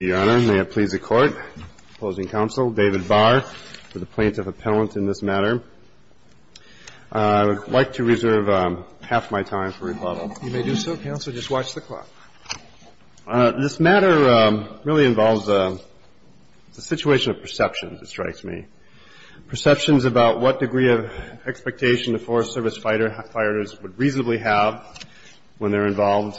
May it please the Court, opposing counsel David Barr for the plaintiff appellant in this matter. I would like to reserve half my time for rebuttal. You may do so, counsel. Just watch the clock. This matter really involves a situation of perceptions, it strikes me. Perceptions about what degree of expectation the Forest Service firefighters would reasonably have when they're involved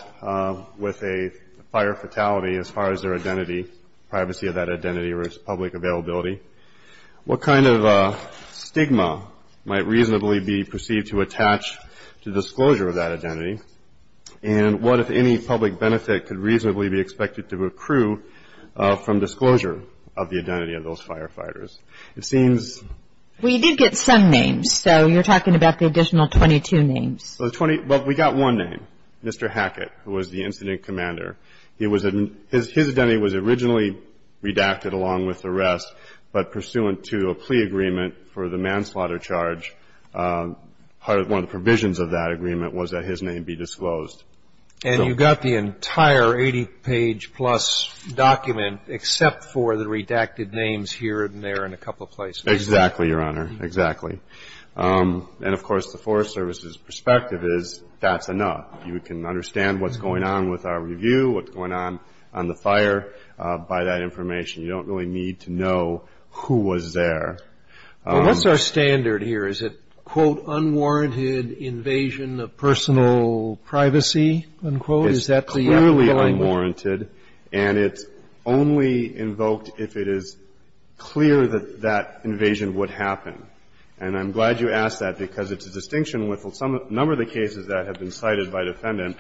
with a fire fatality as far as their identity, privacy of that identity or its public availability. What kind of stigma might reasonably be perceived to attach to disclosure of that identity? And what, if any, public benefit could reasonably be expected to accrue from disclosure of the identity of those firefighters? We did get some names, so you're talking about the additional 22 names. Well, we got one name, Mr. Hackett, who was the incident commander. His identity was originally redacted along with the rest, but pursuant to a plea agreement for the manslaughter charge, one of the provisions of that agreement was that his name be disclosed. And you got the entire 80-page-plus document, except for the redacted names here and there and a couple of places. Exactly, Your Honor, exactly. And, of course, the Forest Service's perspective is that's enough. You can understand what's going on with our review, what's going on on the fire by that information. You don't really need to know who was there. Well, what's our standard here? Is it, quote, unwarranted invasion of personal privacy, unquote? Is that the underlying one? It's clearly unwarranted, and it's only invoked if it is clear that that invasion would happen. And I'm glad you asked that, because it's a distinction with a number of the cases that have been cited by defendant,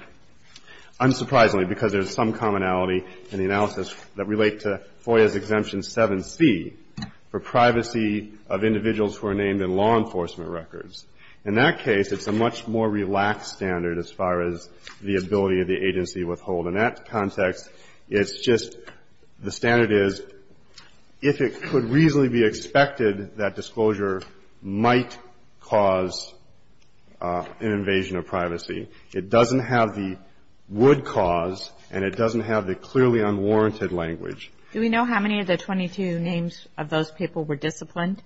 unsurprisingly, because there's some commonality in the analysis that relate to FOIA's Exemption 7C for privacy of individuals who are named in law enforcement records. In that case, it's a much more relaxed standard as far as the ability of the agency to withhold. In that context, it's just the standard is if it could reasonably be expected that disclosure might cause an invasion of privacy. It doesn't have the would cause, and it doesn't have the clearly unwarranted language. Do we know how many of the 22 names of those people were disciplined?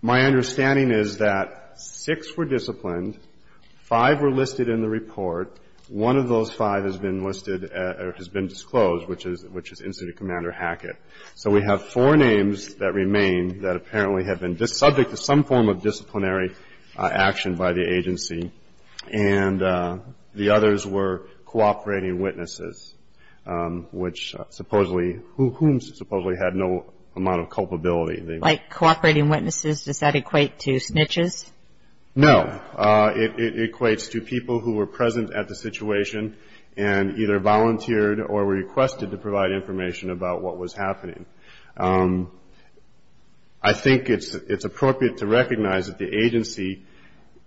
My understanding is that six were disciplined. Five were listed in the report. One of those five has been listed or has been disclosed, which is Incident Commander Hackett. So we have four names that remain that apparently have been subject to some form of disciplinary action by the agency, and the others were cooperating witnesses, which supposedly whom supposedly had no amount of culpability. Like cooperating witnesses, does that equate to snitches? No. It equates to people who were present at the situation and either volunteered or requested to provide information about what was happening. I think it's appropriate to recognize that the agency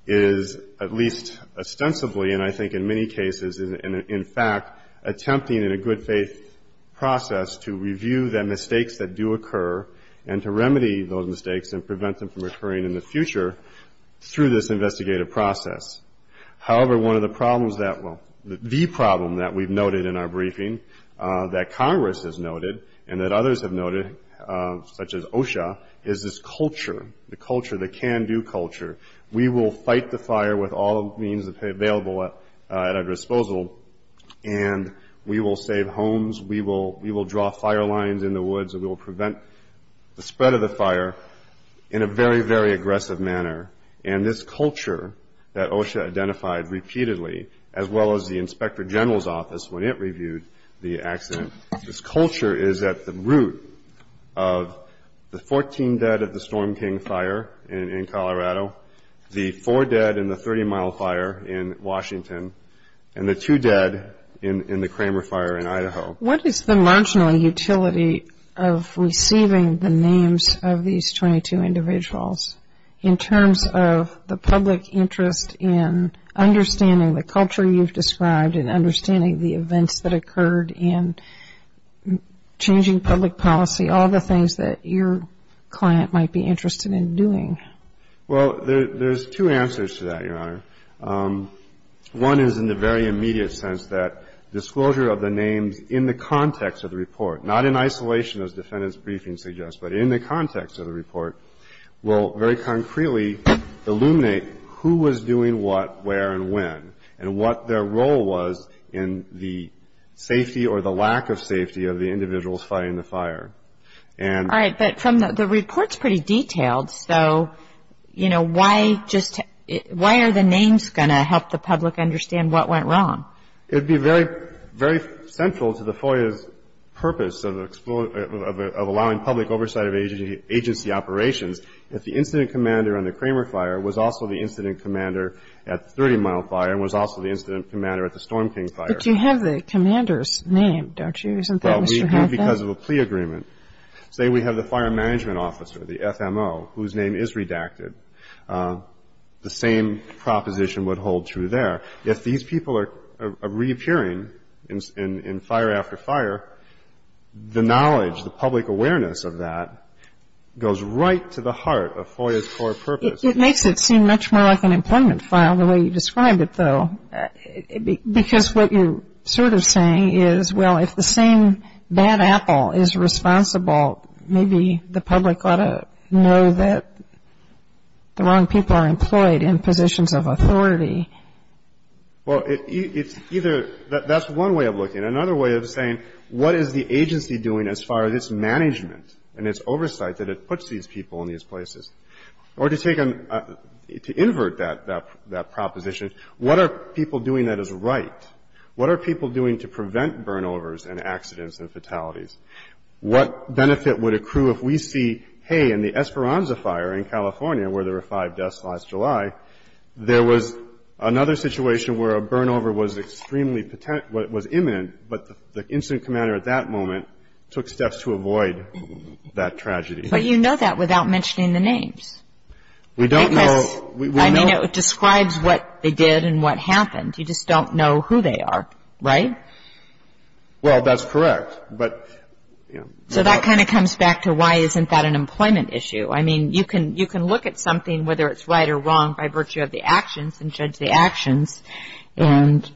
is at least ostensibly, and I think in many cases, in fact, attempting in a good faith process to review the mistakes that do occur and to remedy those mistakes and prevent them from occurring in the future through this investigative process. However, one of the problems that will, the problem that we've noted in our briefing, that Congress has noted and that others have noted, such as OSHA, is this culture, the culture, the can-do culture. We will fight the fire with all the means available at our disposal, and we will save homes, we will draw fire lines in the woods, and we will prevent the spread of the fire in a very, very aggressive manner. And this culture that OSHA identified repeatedly, as well as the Inspector General's Office when it reviewed the accident, this culture is at the root of the 14 dead at the Storm King fire in Colorado, the four dead in the 30-mile fire in Washington, What is the marginal utility of receiving the names of these 22 individuals in terms of the public interest in understanding the culture you've described and understanding the events that occurred and changing public policy, all the things that your client might be interested in doing? Well, there's two answers to that, Your Honor. One is in the very immediate sense that disclosure of the names in the context of the report, not in isolation as defendant's briefing suggests, but in the context of the report will very concretely illuminate who was doing what, where, and when, and what their role was in the safety or the lack of safety of the individuals fighting the fire. All right. But the report's pretty detailed. So, you know, why are the names going to help the public understand what went wrong? It would be very central to the FOIA's purpose of allowing public oversight of agency operations if the incident commander on the Kramer fire was also the incident commander at the 30-mile fire and was also the incident commander at the Storm King fire. But you have the commander's name, don't you? Well, we do because of a plea agreement. Say we have the fire management officer, the FMO, whose name is redacted, the same proposition would hold true there. If these people are reappearing in fire after fire, the knowledge, the public awareness of that goes right to the heart of FOIA's core purpose. It makes it seem much more like an employment file the way you described it, though, because what you're sort of saying is, well, if the same bad apple is responsible, maybe the public ought to know that the wrong people are employed in positions of authority. Well, it's either – that's one way of looking at it. Another way of saying what is the agency doing as far as its management and its oversight that it puts these people in these places? Or to take a – to invert that proposition, what are people doing that is right? What are people doing to prevent burnovers and accidents and fatalities? What benefit would accrue if we see, hey, in the Esperanza fire in California where there were five deaths last July, there was another situation where a burnover was extremely – was imminent, but the incident commander at that moment took steps to avoid that tragedy. But you know that without mentioning the names. We don't know. I mean, it describes what they did and what happened. You just don't know who they are, right? Well, that's correct, but – So that kind of comes back to why isn't that an employment issue? I mean, you can look at something, whether it's right or wrong, by virtue of the actions and judge the actions, and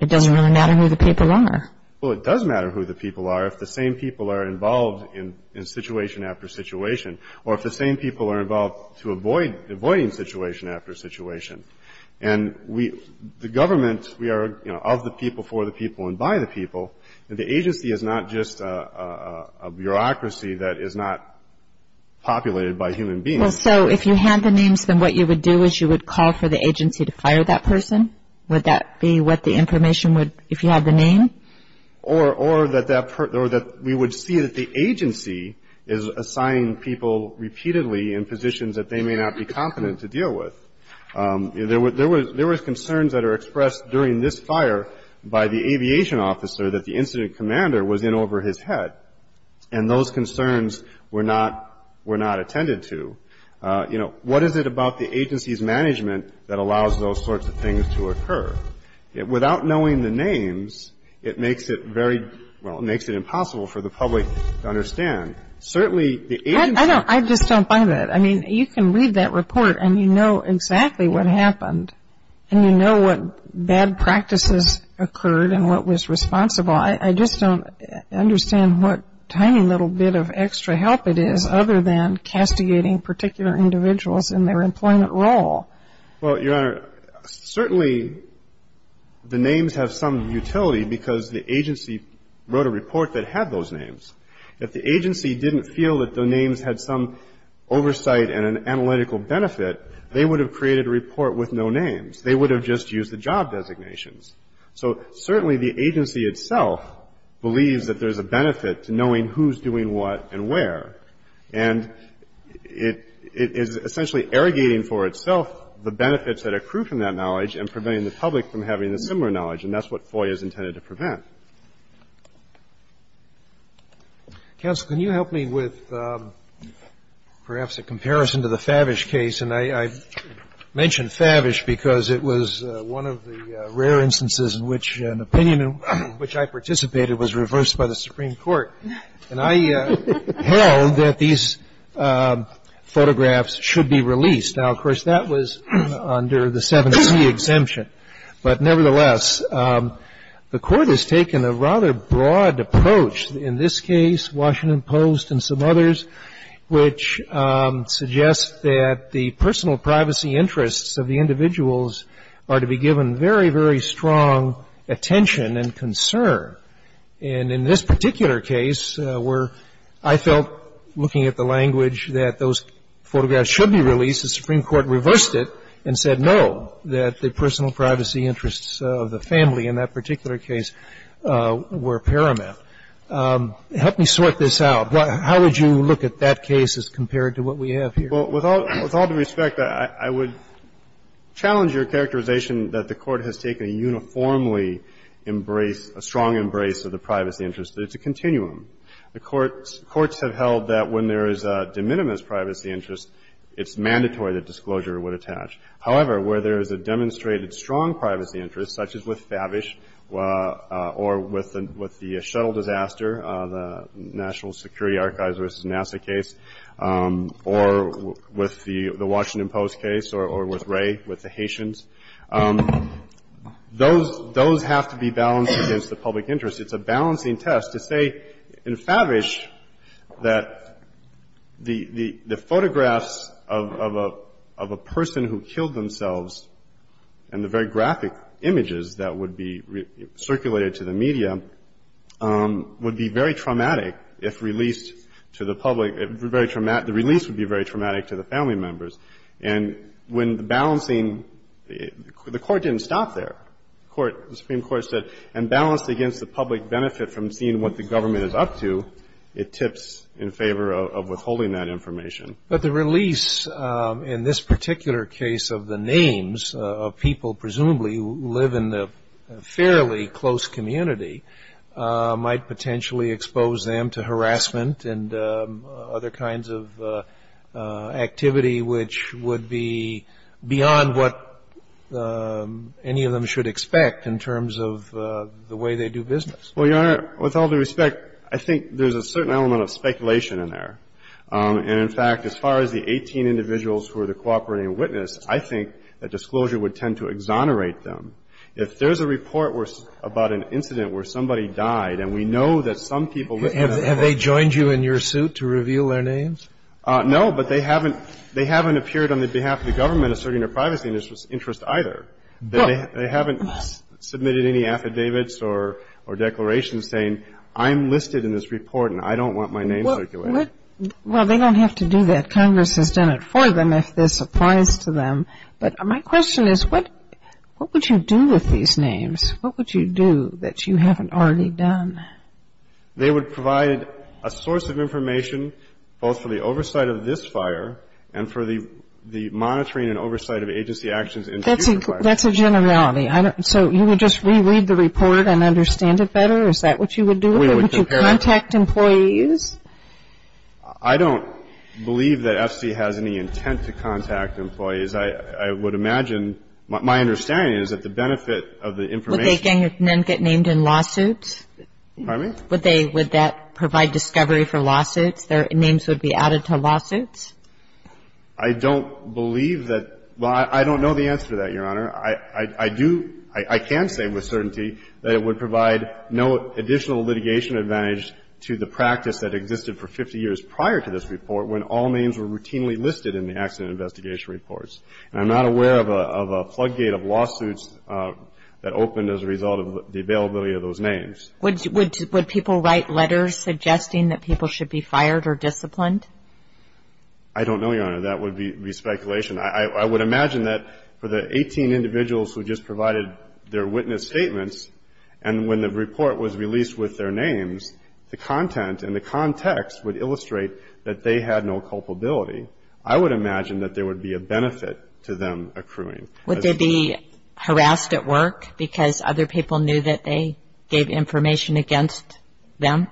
it doesn't really matter who the people are. Well, it does matter who the people are if the same people are involved in situation after situation or if the same people are involved to avoid – avoiding situation after situation. And we – the government, we are, you know, of the people, for the people, and by the people. The agency is not just a bureaucracy that is not populated by human beings. Well, so if you had the names, then what you would do is you would call for the agency to fire that person? Would that be what the information would – if you had the name? Or that that – or that we would see that the agency is assigning people repeatedly in positions that they may not be competent to deal with. There were – there were concerns that are expressed during this fire by the aviation officer that the incident commander was in over his head, and those concerns were not – were not attended to. You know, what is it about the agency's management that allows those sorts of things to occur? Without knowing the names, it makes it very – well, it makes it impossible for the public to understand. Certainly, the agency – I don't – I just don't buy that. I mean, you can read that report, and you know exactly what happened, and you know what bad practices occurred and what was responsible. Well, I just don't understand what tiny little bit of extra help it is other than castigating particular individuals in their employment role. Well, Your Honor, certainly the names have some utility because the agency wrote a report that had those names. If the agency didn't feel that the names had some oversight and an analytical benefit, they would have created a report with no names. They would have just used the job designations. So certainly the agency itself believes that there's a benefit to knowing who's doing what and where. And it is essentially irrigating for itself the benefits that accrue from that knowledge and preventing the public from having a similar knowledge, and that's what FOIA is intended to prevent. Counsel, can you help me with perhaps a comparison to the Favish case? And I mention Favish because it was one of the rare instances in which an opinion in which I participated was reversed by the Supreme Court. And I held that these photographs should be released. Now, of course, that was under the 7c exemption. But nevertheless, the Court has taken a rather broad approach in this case, Washington Post and some others, which suggest that the personal privacy interests of the individuals are to be given very, very strong attention and concern. And in this particular case, where I felt, looking at the language, that those photographs should be released, the Supreme Court reversed it and said no, that the personal privacy interests of the family in that particular case were paramount. Help me sort this out. How would you look at that case as compared to what we have here? Well, with all due respect, I would challenge your characterization that the Court has taken a uniformly embrace, a strong embrace of the privacy interests. It's a continuum. The courts have held that when there is a de minimis privacy interest, it's mandatory that disclosure would attach. However, where there is a demonstrated strong privacy interest, such as with Favish or with the Shuttle disaster, the National Security Archives v. NASA case, or with the Washington Post case, or with Ray, with the Haitians, those have to be balanced against the public interest. It's a balancing test to say in Favish that the photographs of a person who killed themselves and the very graphic images that would be released by the Supreme Court circulated to the media would be very traumatic if released to the public. The release would be very traumatic to the family members. And when balancing, the Court didn't stop there. The Supreme Court said, and balanced against the public benefit from seeing what the government is up to, it tips in favor of withholding that information. But the release in this particular case of the names of people presumably who live in the fairly close community might potentially expose them to harassment and other kinds of activity which would be beyond what any of them should expect in terms of the way they do business. Well, Your Honor, with all due respect, I think there's a certain element of speculation in there. And in fact, as far as the 18 individuals who are the cooperating witness, I think that disclosure would tend to exonerate them. If there's a report about an incident where somebody died, and we know that some people were killed. Have they joined you in your suit to reveal their names? No, but they haven't appeared on the behalf of the government asserting their privacy interests either. They haven't submitted any affidavits or declarations saying I'm listed in this report and I don't want my name circulated. Well, they don't have to do that. Congress has done it for them if this applies to them. But my question is what would you do with these names? What would you do that you haven't already done? They would provide a source of information both for the oversight of this fire and for the monitoring and oversight of agency actions in future fires. That's a generality. So you would just reread the report and understand it better? Is that what you would do? We would compare it. Would you contact employees? I don't believe that FC has any intent to contact employees. I would imagine, my understanding is that the benefit of the information Would they then get named in lawsuits? Pardon me? Would they, would that provide discovery for lawsuits? Their names would be added to lawsuits? I don't believe that. Well, I don't know the answer to that, Your Honor. I do, I can say with certainty that it would provide no additional litigation advantage to the practice that existed for 50 years prior to this report when all names were routinely listed in the accident investigation reports. And I'm not aware of a plug gate of lawsuits that opened as a result of the availability of those names. Would people write letters suggesting that people should be fired or disciplined? I don't know, Your Honor. That would be speculation. I would imagine that for the 18 individuals who just provided their witness statements and when the report was released with their names, the content and the context would illustrate that they had no culpability. I would imagine that there would be a benefit to them accruing. Would they be harassed at work because other people knew that they gave information against them?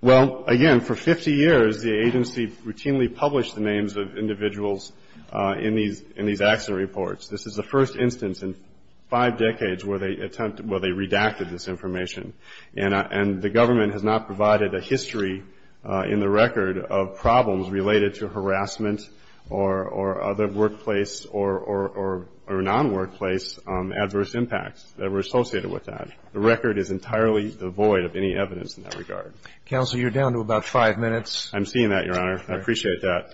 Well, again, for 50 years the agency routinely published the names of individuals in these accident reports. This is the first instance in five decades where they attempted, where they redacted this information. And the government has not provided a history in the record of problems related to harassment or other workplace or non-workplace adverse impacts that were associated with that. The record is entirely devoid of any evidence in that regard. Counsel, you're down to about five minutes. I'm seeing that, Your Honor. I appreciate that.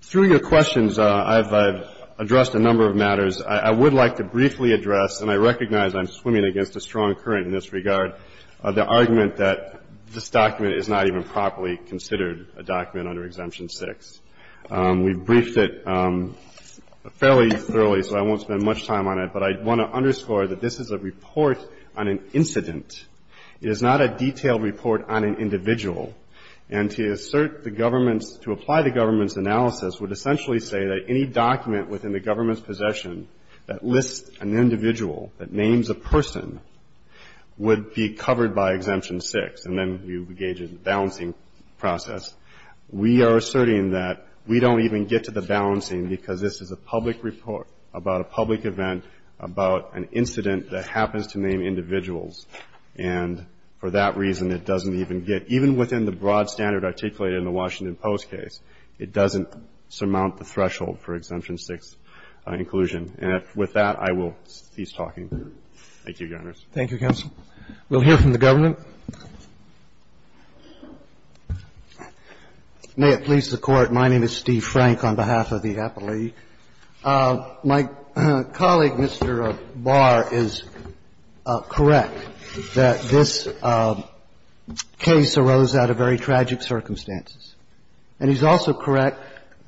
Through your questions, I've addressed a number of matters. I would like to briefly address, and I recognize I'm swimming against a strong current in this regard, the argument that this document is not even properly considered a document under Exemption 6. We've briefed it fairly thoroughly, so I won't spend much time on it. But I want to underscore that this is a report on an incident. It is not a detailed report on an individual. And to assert the government's, to apply the government's analysis would essentially say that any document within the government's possession that lists an individual that names a person would be covered by Exemption 6. And then you engage in the balancing process. We are asserting that we don't even get to the balancing because this is a public report about a public event about an incident that happens to name individuals. And for that reason, it doesn't even get, even within the broad standard articulated in the Washington Post case, it doesn't surmount the threshold for Exemption 6 inclusion. And with that, I will cease talking. Thank you, Your Honors. Thank you, counsel. We'll hear from the government. May it please the Court, my name is Steve Frank on behalf of the Appellee. My colleague, Mr. Barr, is correct that this case arose out of very tragic circumstances. And he's also correct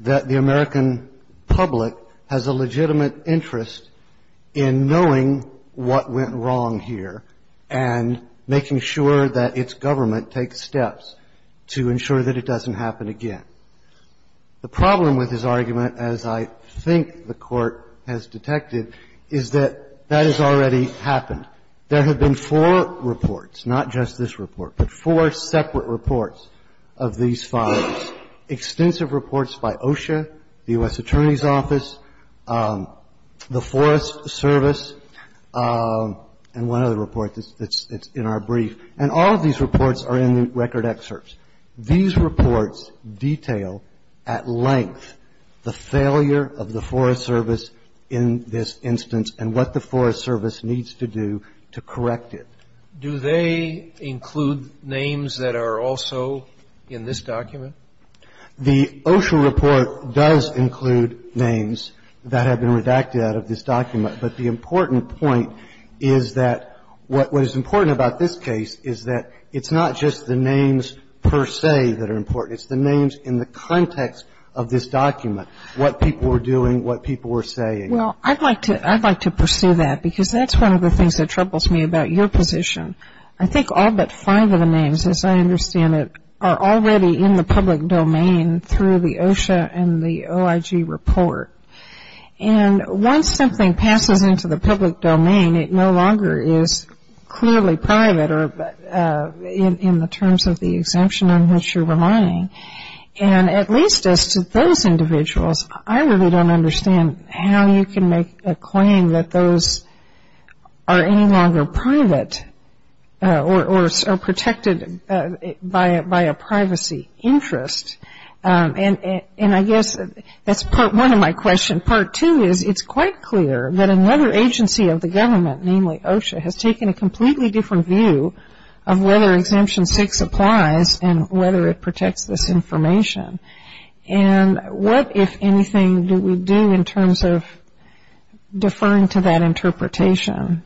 that the American public has a legitimate interest in knowing what went wrong here and making sure that its government takes steps to ensure that it doesn't happen again. The problem with his argument, as I think the Court has detected, is that that has already happened. There have been four reports, not just this report, but four separate reports of these fires, extensive reports by OSHA, the U.S. Attorney's Office, the Forest Service, and one other report that's in our brief. And all of these reports are in the record excerpts. These reports detail at length the failure of the Forest Service in this instance and what the Forest Service needs to do to correct it. Do they include names that are also in this document? The OSHA report does include names that have been redacted out of this document. But the important point is that what is important about this case is that it's not just the names per se that are important. It's the names in the context of this document, what people were doing, what people were saying. Well, I'd like to pursue that because that's one of the things that troubles me about your position. I think all but five of the names, as I understand it, are already in the public domain through the OSHA and the OIG report. And once something passes into the public domain, it no longer is clearly private or in the terms of the exemption in which you're reminding. And at least as to those individuals, I really don't understand how you can make a claim that those are any longer private or protected by a privacy interest. And I guess that's part one of my question. Part two is it's quite clear that another agency of the government, namely OSHA, has taken a completely different view of whether Exemption 6 applies and whether it protects this information. And what, if anything, do we do in terms of deferring to that interpretation?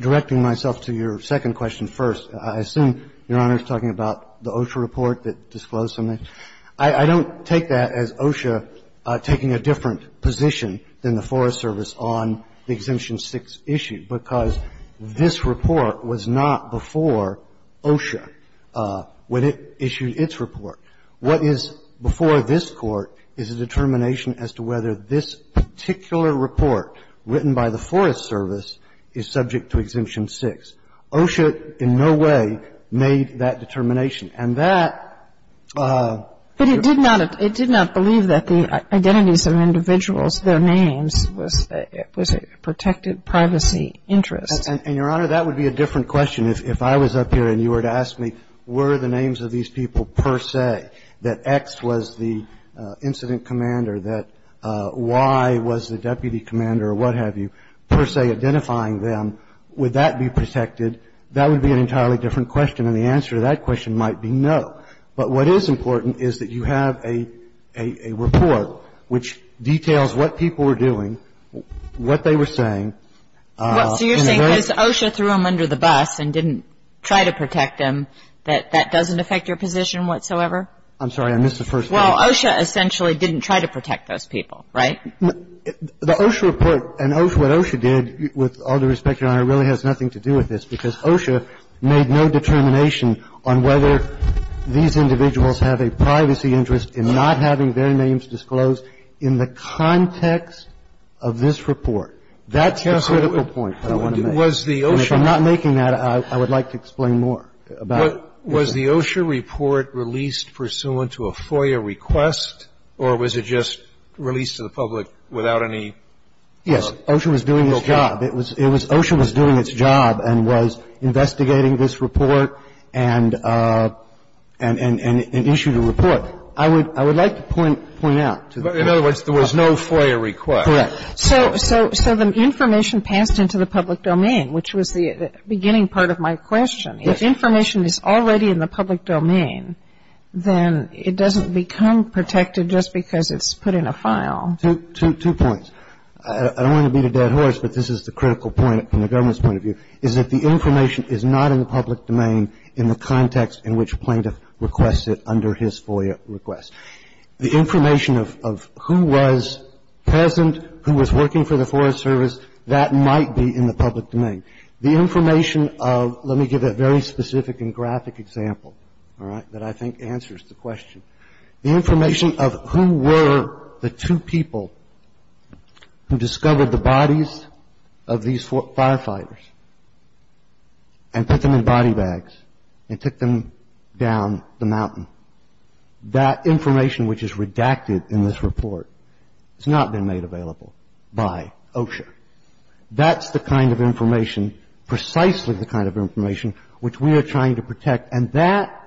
Directing myself to your second question first, I assume, Your Honor, is talking about the OSHA report that disclosed something. I don't take that as OSHA taking a different position than the Forest Service on the issue, because this report was not before OSHA when it issued its report. What is before this Court is a determination as to whether this particular report written by the Forest Service is subject to Exemption 6. OSHA in no way made that determination. And that ---- It did not believe that the identities of individuals, their names, was a protected privacy interest. And, Your Honor, that would be a different question. If I was up here and you were to ask me, were the names of these people per se, that X was the incident commander, that Y was the deputy commander or what have you, per se identifying them, would that be protected? That would be an entirely different question. And the answer to that question might be no. But what is important is that you have a report which details what people were doing, what they were saying. And then ---- So you're saying because OSHA threw them under the bus and didn't try to protect them, that that doesn't affect your position whatsoever? I'm sorry. I missed the first part. Well, OSHA essentially didn't try to protect those people, right? The OSHA report and what OSHA did, with all due respect, Your Honor, really has nothing to do with this because OSHA made no determination on whether these individuals have a privacy interest in not having their names disclosed in the context of this report. That's a critical point that I want to make. Was the OSHA ---- And if I'm not making that, I would like to explain more about it. Was the OSHA report released pursuant to a FOIA request or was it just released to the public without any ---- Yes. OSHA was doing its job. It was OSHA was doing its job and was investigating this report and issued a report. I would like to point out to the Court ---- In other words, there was no FOIA request. Correct. So the information passed into the public domain, which was the beginning part of my question. If information is already in the public domain, then it doesn't become protected just because it's put in a file. Two points. I don't want to beat a dead horse, but this is the critical point from the government's point of view, is that the information is not in the public domain in the context in which plaintiff requests it under his FOIA request. The information of who was present, who was working for the Forest Service, that might be in the public domain. The information of ---- let me give a very specific and graphic example, all right, that I think answers the question. The information of who were the two people who discovered the bodies of these firefighters and put them in body bags and took them down the mountain, that information which is redacted in this report has not been made available by OSHA. That's the kind of information, precisely the kind of information, which we are trying to protect. And that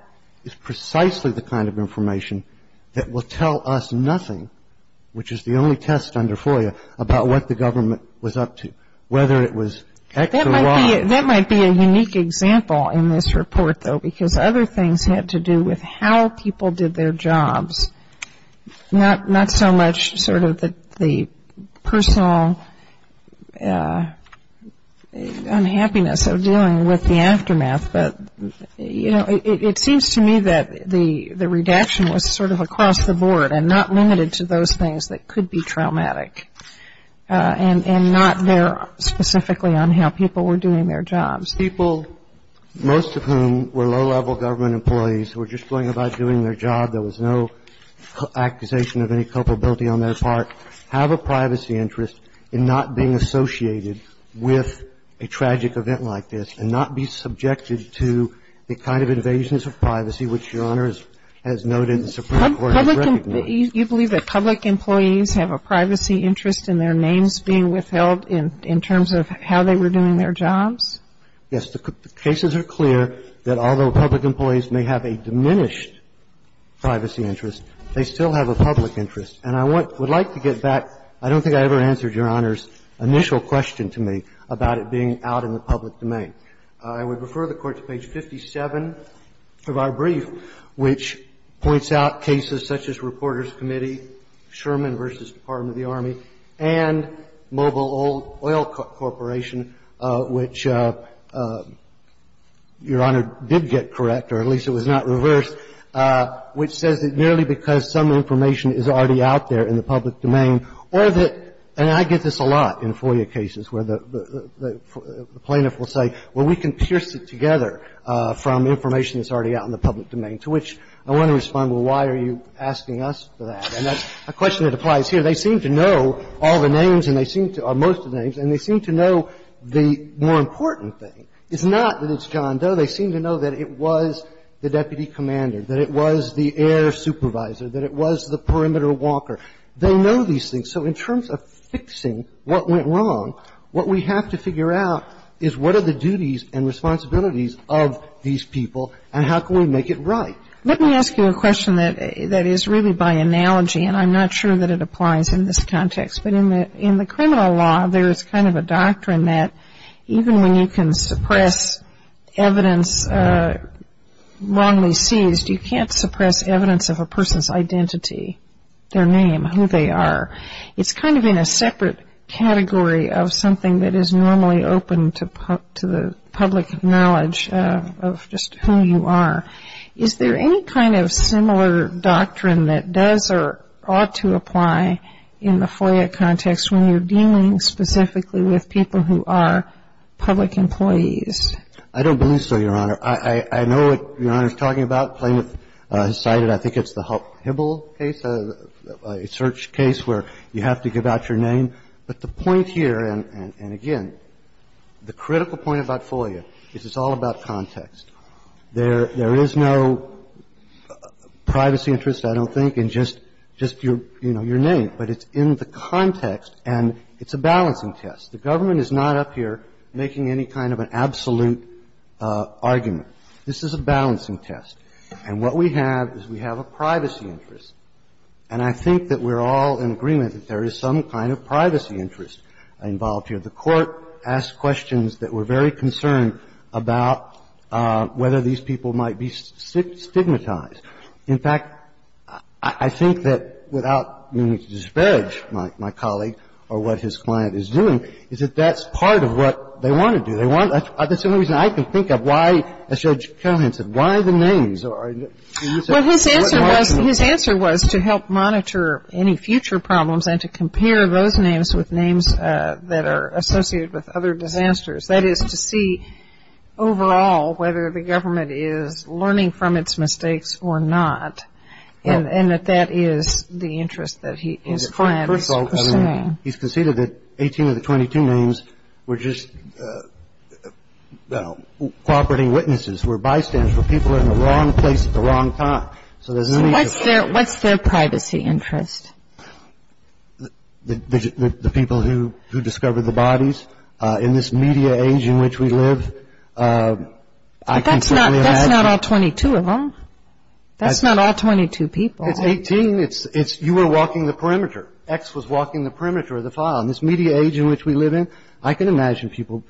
is precisely the kind of information that will tell us nothing, which is the only test under FOIA, about what the government was up to, whether it was X or Y. That might be a unique example in this report, though, because other things had to do with how people did their jobs, not so much sort of the personal unhappiness of dealing with the aftermath. But, you know, it seems to me that the redaction was sort of across the board and not limited to those things that could be traumatic and not there specifically on how people were doing their jobs. People, most of whom were low-level government employees who were just going about doing their job, there was no accusation of any culpability on their part, have a privacy interest in not being associated with a tragic event like this and not be subjected to the kind of invasions of privacy, which Your Honor has noted the Supreme Court has recognized. You believe that public employees have a privacy interest in their names being withheld in terms of how they were doing their jobs? Yes. The cases are clear that although public employees may have a diminished privacy interest, they still have a public interest. And I would like to get back. I don't think I ever answered Your Honor's initial question to me about it being out in the public domain. I would refer the Court to page 57 of our brief, which points out cases such as Reporters' Committee, Sherman v. Department of the Army, and Mobile Oil Corporation, which Your Honor did get correct, or at least it was not reversed, which says that the public employees have a privacy interest in their names being withheld in terms of how they were doing their jobs. And I would like to get back. I don't think I ever answered Your Honor's initial question to me about it being out in the public domain. I would refer the Court to page 57 of our brief, which points out cases such as Reporters' Committee, Sherman v. Department of the Army, and Mobile Oil Corporation, which says that the public employees have a privacy interest in their names being withheld in terms of how they were doing their jobs. And I would refer the Court to page 57 of our brief, which points out cases such as Reporters' Committee, Sherman v. Department of the Army, and Mobile Oil Corporation, which says that the public employees have a privacy interest in their names being withheld in terms of how they were doing their jobs. And I would refer the Court to page 57 of our brief, which points out cases such as Reporters' Committee, Sherman v. Department of the Army, and Mobile Oil Corporation, which says that the public employees have a privacy interest in their names being withheld in terms of how they were doing their jobs. And I would refer the Court to page 57 of our brief, which points out cases such as Reporters' Committee, Sherman v. Department of the Army, and Mobile Oil Corporation, which says that the public employees have a privacy interest in their names being withheld in terms of how they were doing their jobs. Now, Hibble case, a search case where you have to give out your name, but the point here, and again, the critical point about FOIA is it's all about context. There is no privacy interest, I don't think, in just your name, but it's in the context and it's a balancing test. The government is not up here making any kind of an absolute argument. This is a balancing test. And what we have is we have a privacy interest. And I think that we're all in agreement that there is some kind of privacy interest involved here. The Court asked questions that were very concerned about whether these people might be stigmatized. In fact, I think that, without meaning to disparage my colleague or what his client is doing, is that that's part of what they want to do. That's the only reason I can think of why, as Judge Callahan said, why the names. Well, his answer was to help monitor any future problems and to compare those names with names that are associated with other disasters. That is to see, overall, whether the government is learning from its mistakes or not, and that that is the interest that his client is pursuing. First of all, he's conceded that 18 of the 22 names were just cooperating witnesses, were bystanders, were people in the wrong place at the wrong time. So there's no need to... So what's their privacy interest? The people who discovered the bodies. In this media age in which we live, I can certainly imagine... But that's not all 22 of them. That's not all 22 people. It's 18. It's you were walking the perimeter. X was walking the perimeter of the file. In this media age in which we live in, I can imagine people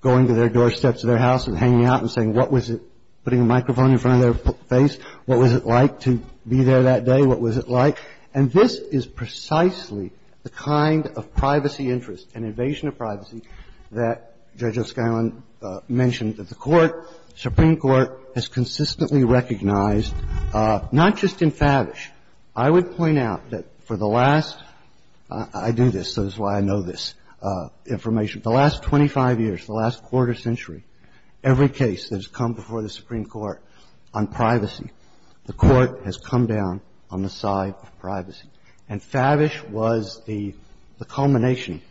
going to their doorsteps of their house and hanging out and saying, what was it, putting a microphone in front of their face, what was it like to be there that day, what was it like? And this is precisely the kind of privacy interest and invasion of privacy that Judge O'Scillon mentioned that the Court, Supreme Court, has consistently recognized, not just in Favish. I would point out that for the last, I do this, so this is why I know this information, the last 25 years, the last quarter century, every case that has come before the Supreme Court on privacy, the Court has come down on the side of privacy. And Favish was the culmination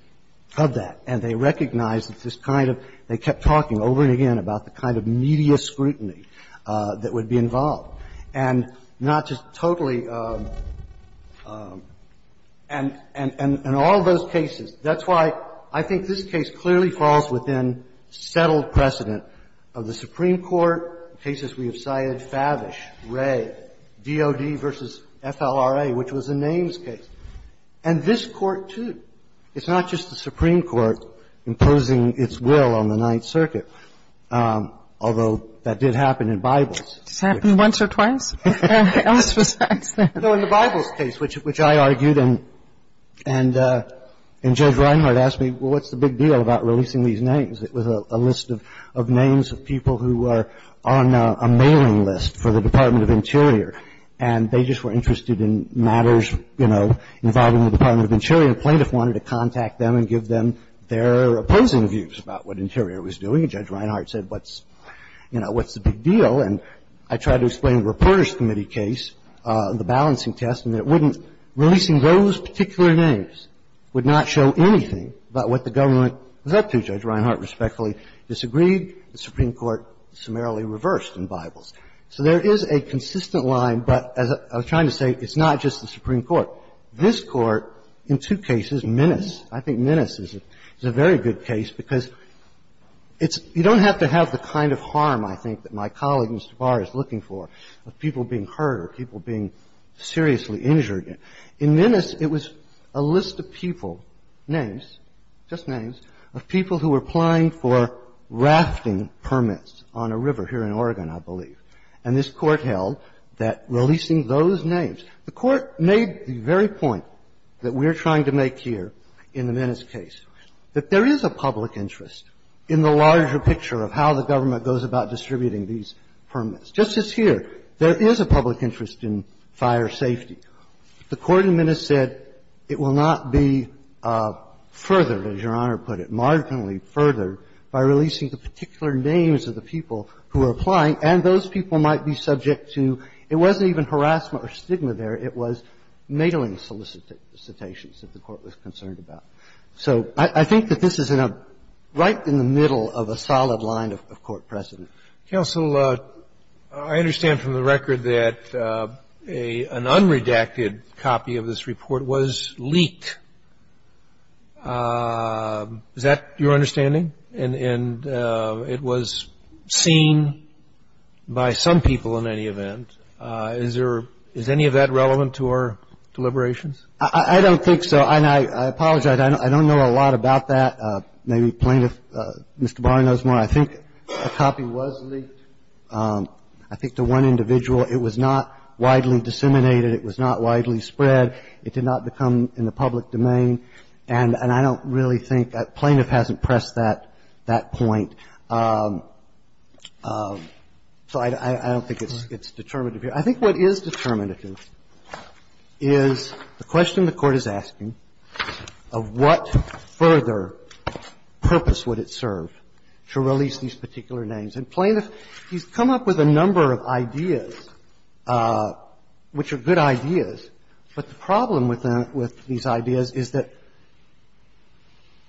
of that, and they recognized that this kind of, they kept talking over and again about the kind of media scrutiny that would be involved and not just totally. And in all those cases, that's why I think this case clearly falls within settled precedent of the Supreme Court, cases we have cited, Favish, Wray, D.O.D. versus FLRA, which was a names case. And this Court, too. It's not just the Supreme Court imposing its will on the Ninth Circuit, although that did happen in Bibles. It happened once or twice? No, in the Bibles case, which I argued and Judge Reinhart asked me, well, what's the big deal about releasing these names? It was a list of names of people who were on a mailing list for the Department of Interior, and they just were interested in matters involving the Department of Interior, and a plaintiff wanted to contact them and give them their opposing views about what Interior was doing, and Judge Reinhart said, what's the big deal? And I tried to explain the Reporters Committee case, the balancing test, and it wouldn't releasing those particular names would not show anything about what the government was up to. Judge Reinhart respectfully disagreed. The Supreme Court summarily reversed in Bibles. So there is a consistent line, but as I was trying to say, it's not just the Supreme Court. This Court, in two cases, menace. I think menace is a very good case, because it's you don't have to have the kind of evidence that Mr. Barr is looking for of people being hurt or people being seriously injured. In menace, it was a list of people, names, just names, of people who were applying for rafting permits on a river here in Oregon, I believe, and this Court held that releasing those names. The Court made the very point that we're trying to make here in the menace case, that there is a public interest in the larger picture of how the government goes about distributing these permits. Just as here, there is a public interest in fire safety. The Court in menace said it will not be furthered, as Your Honor put it, marginally furthered, by releasing the particular names of the people who are applying, and those people might be subject to, it wasn't even harassment or stigma there, it was mailing solicitations that the Court was concerned about. So I think that this is in a, right in the middle of a solid line of Court precedent. Counsel, I understand from the record that an unredacted copy of this report was leaked. Is that your understanding? And it was seen by some people in any event. Is there, is any of that relevant to our deliberations? I don't think so. And I apologize. I don't know a lot about that. Maybe Plaintiff, Mr. Barr, knows more. I think a copy was leaked. I think to one individual. It was not widely disseminated. It was not widely spread. It did not become in the public domain. And I don't really think that Plaintiff hasn't pressed that point. So I don't think it's determinative here. I think what is determinative is the question the Court is asking of what further purpose would it serve to release these particular names. And Plaintiff, he's come up with a number of ideas, which are good ideas, but the problem with these ideas is that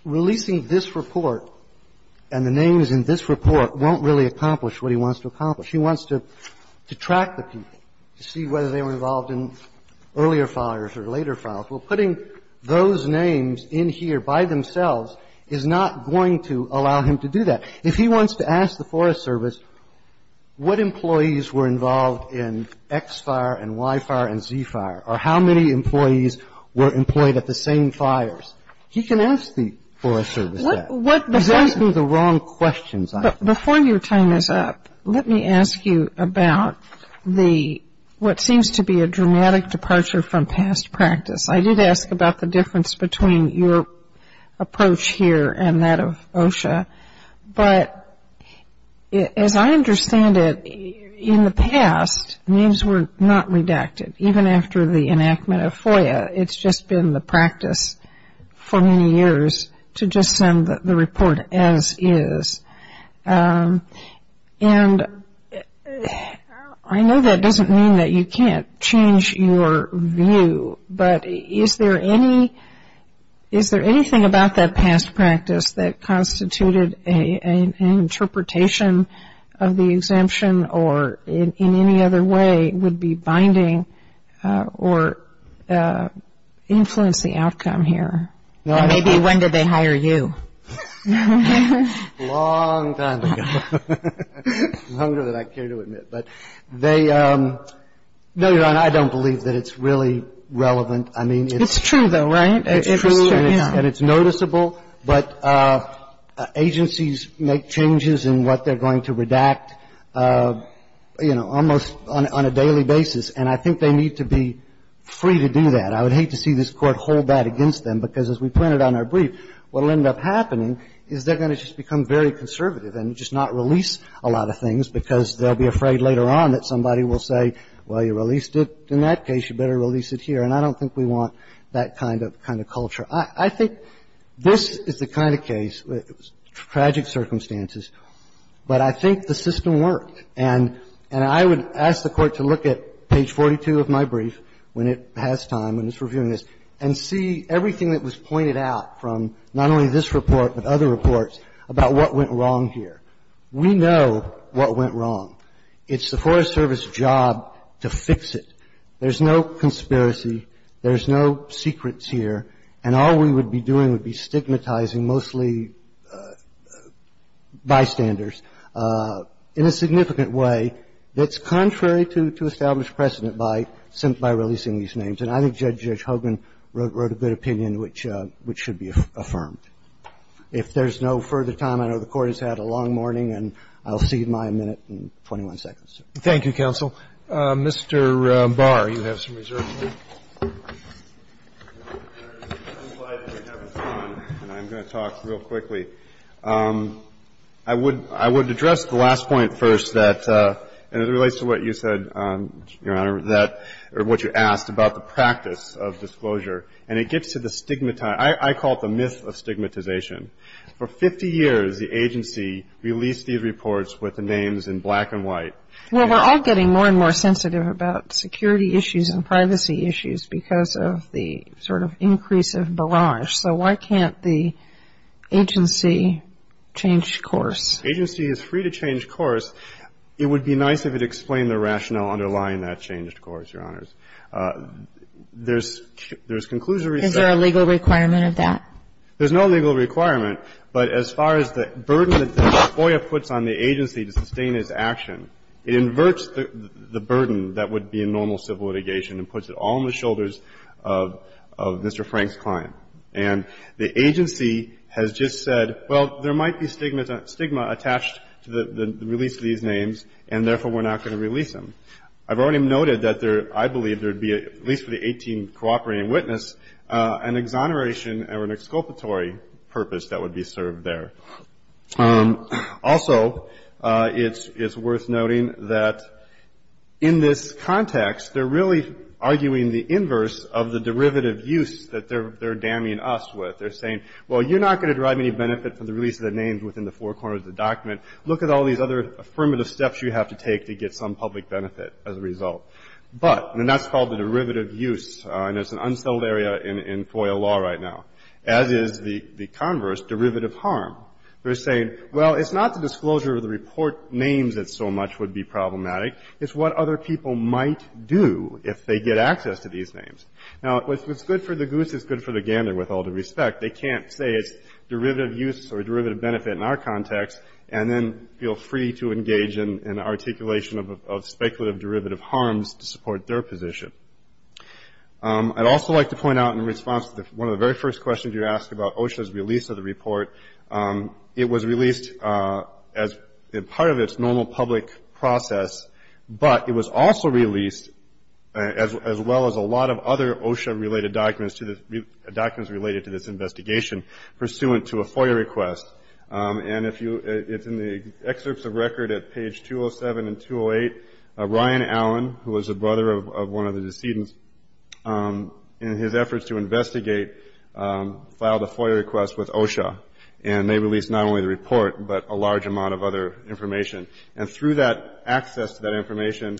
releasing this report and the names in this report is not going to allow him to do that. If he wants to track the people, to see whether they were involved in earlier fires or later fires, well, putting those names in here by themselves is not going to allow him to do that. If he wants to ask the Forest Service what employees were involved in X fire and Y fire and Z fire, or how many employees were employed at the same fires, he can ask the Forest There are no questions. Before your time is up, let me ask you about what seems to be a dramatic departure from past practice. I did ask about the difference between your approach here and that of OSHA. But as I understand it, in the past names were not redacted, even after the enactment of FOIA. It's just been the practice for many years to just send the report as is. And I know that doesn't mean that you can't change your view, but is there anything about that past practice that constituted an interpretation of the exemption or in any other way would be binding or influence the outcome here? Maybe when did they hire you? A long time ago. Longer than I care to admit. No, Your Honor, I don't believe that it's really relevant. It's true, though, right? It's true and it's noticeable, but agencies make changes in what they're going to redact. You know, almost on a daily basis. And I think they need to be free to do that. I would hate to see this Court hold that against them, because as we pointed out in our brief, what will end up happening is they're going to just become very conservative and just not release a lot of things because they'll be afraid later on that somebody will say, well, you released it in that case, you better release it here. And I don't think we want that kind of culture. I think this is the kind of case, tragic circumstances, but I think the system works, and I would ask the Court to look at page 42 of my brief when it has time, when it's reviewing this, and see everything that was pointed out from not only this report but other reports about what went wrong here. We know what went wrong. It's the Forest Service job to fix it. There's no conspiracy. There's no secrets here. And all we would be doing would be stigmatizing mostly bystanders. In a significant way, it's contrary to establish precedent by releasing these names. And I think Judge Hogan wrote a good opinion which should be affirmed. If there's no further time, I know the Court has had a long morning, and I'll cede my minute and 21 seconds. Thank you, counsel. Mr. Barr, you have some resources. I'm going to talk real quickly. I would address the last point first that, and it relates to what you said, Your Honor, or what you asked about the practice of disclosure. And it gets to the stigmatization. I call it the myth of stigmatization. For 50 years, the agency released these reports with the names in black and white. Well, we're all getting more and more sensitive about security issues and privacy issues. And we're all getting more and more sensitive about privacy issues because of the sort of increase of barrage. So why can't the agency change course? Agency is free to change course. It would be nice if it explained the rationale underlying that change, of course, Your Honors. There's conclusive research. Is there a legal requirement of that? There's no legal requirement. But as far as the burden that FOIA puts on the agency to sustain its action, it inverts the burden that would be in normal civil litigation and puts it all on the shoulders of Mr. Frank's client. And the agency has just said, well, there might be stigma attached to the release of these names, and therefore, we're not going to release them. I've already noted that there, I believe, there would be, at least for the 18 cooperating witness, an exoneration or an exculpatory purpose that would be served there. Also, it's worth noting that in this context, they're really arguing the inverse of the derivative use that they're damning us with. They're saying, well, you're not going to derive any benefit from the release of the names within the four corners of the document. Look at all these other affirmative steps you have to take to get some public benefit as a result. But, and that's called the derivative use. And it's an unsettled area in FOIA law right now, as is the converse, derivative harm. They're saying, well, it's not the disclosure of the report names that so much would be problematic. It's what other people might do if they get access to these names. Now, what's good for the goose is good for the gander, with all due respect. They can't say it's derivative use or derivative benefit in our context and then I'd also like to point out in response to one of the very first questions you asked about OSHA's release of the report, it was released as part of its normal public process, but it was also released as well as a lot of other OSHA-related documents related to this investigation pursuant to a FOIA request. And if you, it's in the excerpts of record at page 207 and 208. Ryan Allen, who was the brother of one of the decedents, in his efforts to investigate, filed a FOIA request with OSHA. And they released not only the report, but a large amount of other information. And through that access to that information,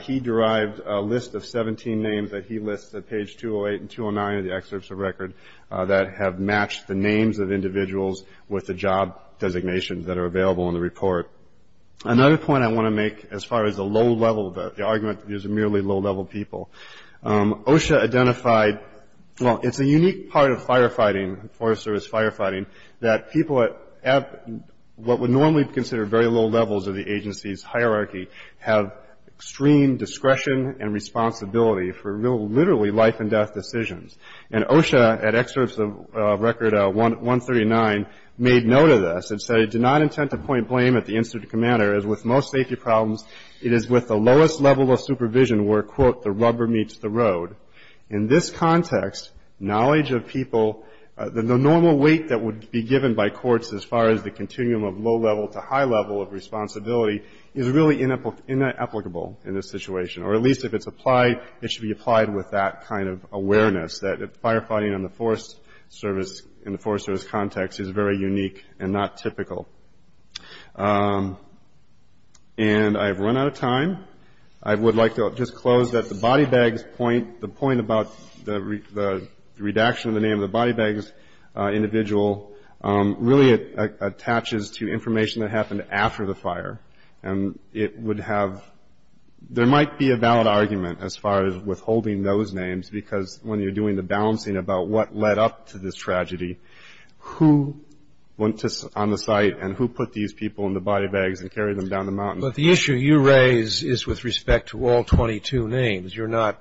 he derived a list of 17 names that he lists at page 208 and 209 of the excerpts of record that have matched the names of individuals Another point I want to make as far as the low-level, the argument that these are merely low-level people. OSHA identified, well, it's a unique part of firefighting, Forest Service firefighting, that people at what would normally be considered very low levels of the agency's hierarchy have extreme discretion and responsibility for literally life-and-death decisions. And OSHA, at excerpts of record 139, made note of this and said, I did not intend to point blame at the incident commander, as with most safety problems, it is with the lowest level of supervision where, quote, the rubber meets the road. In this context, knowledge of people, the normal weight that would be given by courts as far as the continuum of low-level to high-level of responsibility, is really inapplicable in this situation. Or at least if it's applied, it should be applied with that kind of awareness, that firefighting in the Forest Service context is very unique and not typical. And I've run out of time. I would like to just close that the body bags point, the point about the redaction of the name of the body bags individual, really attaches to information that happened after the fire. And it would have, there might be a valid argument as far as withholding those names, because when you're doing the balancing about what led up to this tragedy, who went on the site and who put these people in the body bags and carried them down the mountain. But the issue you raise is with respect to all 22 names. You're not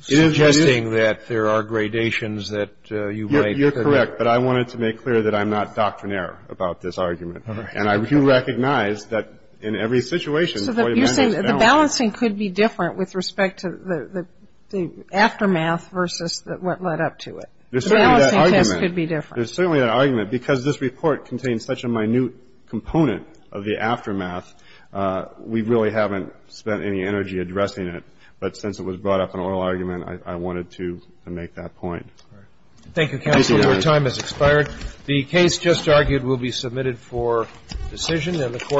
suggesting that there are gradations that you might. You're correct. But I wanted to make clear that I'm not doctrinaire about this argument. And I do recognize that in every situation. The balancing could be different with respect to the aftermath versus what led up to it. The balancing test could be different. There's certainly an argument. Because this report contains such a minute component of the aftermath, we really haven't spent any energy addressing it. But since it was brought up in an oral argument, I wanted to make that point. Thank you, counsel. Your time has expired. The case just argued will be submitted for decision.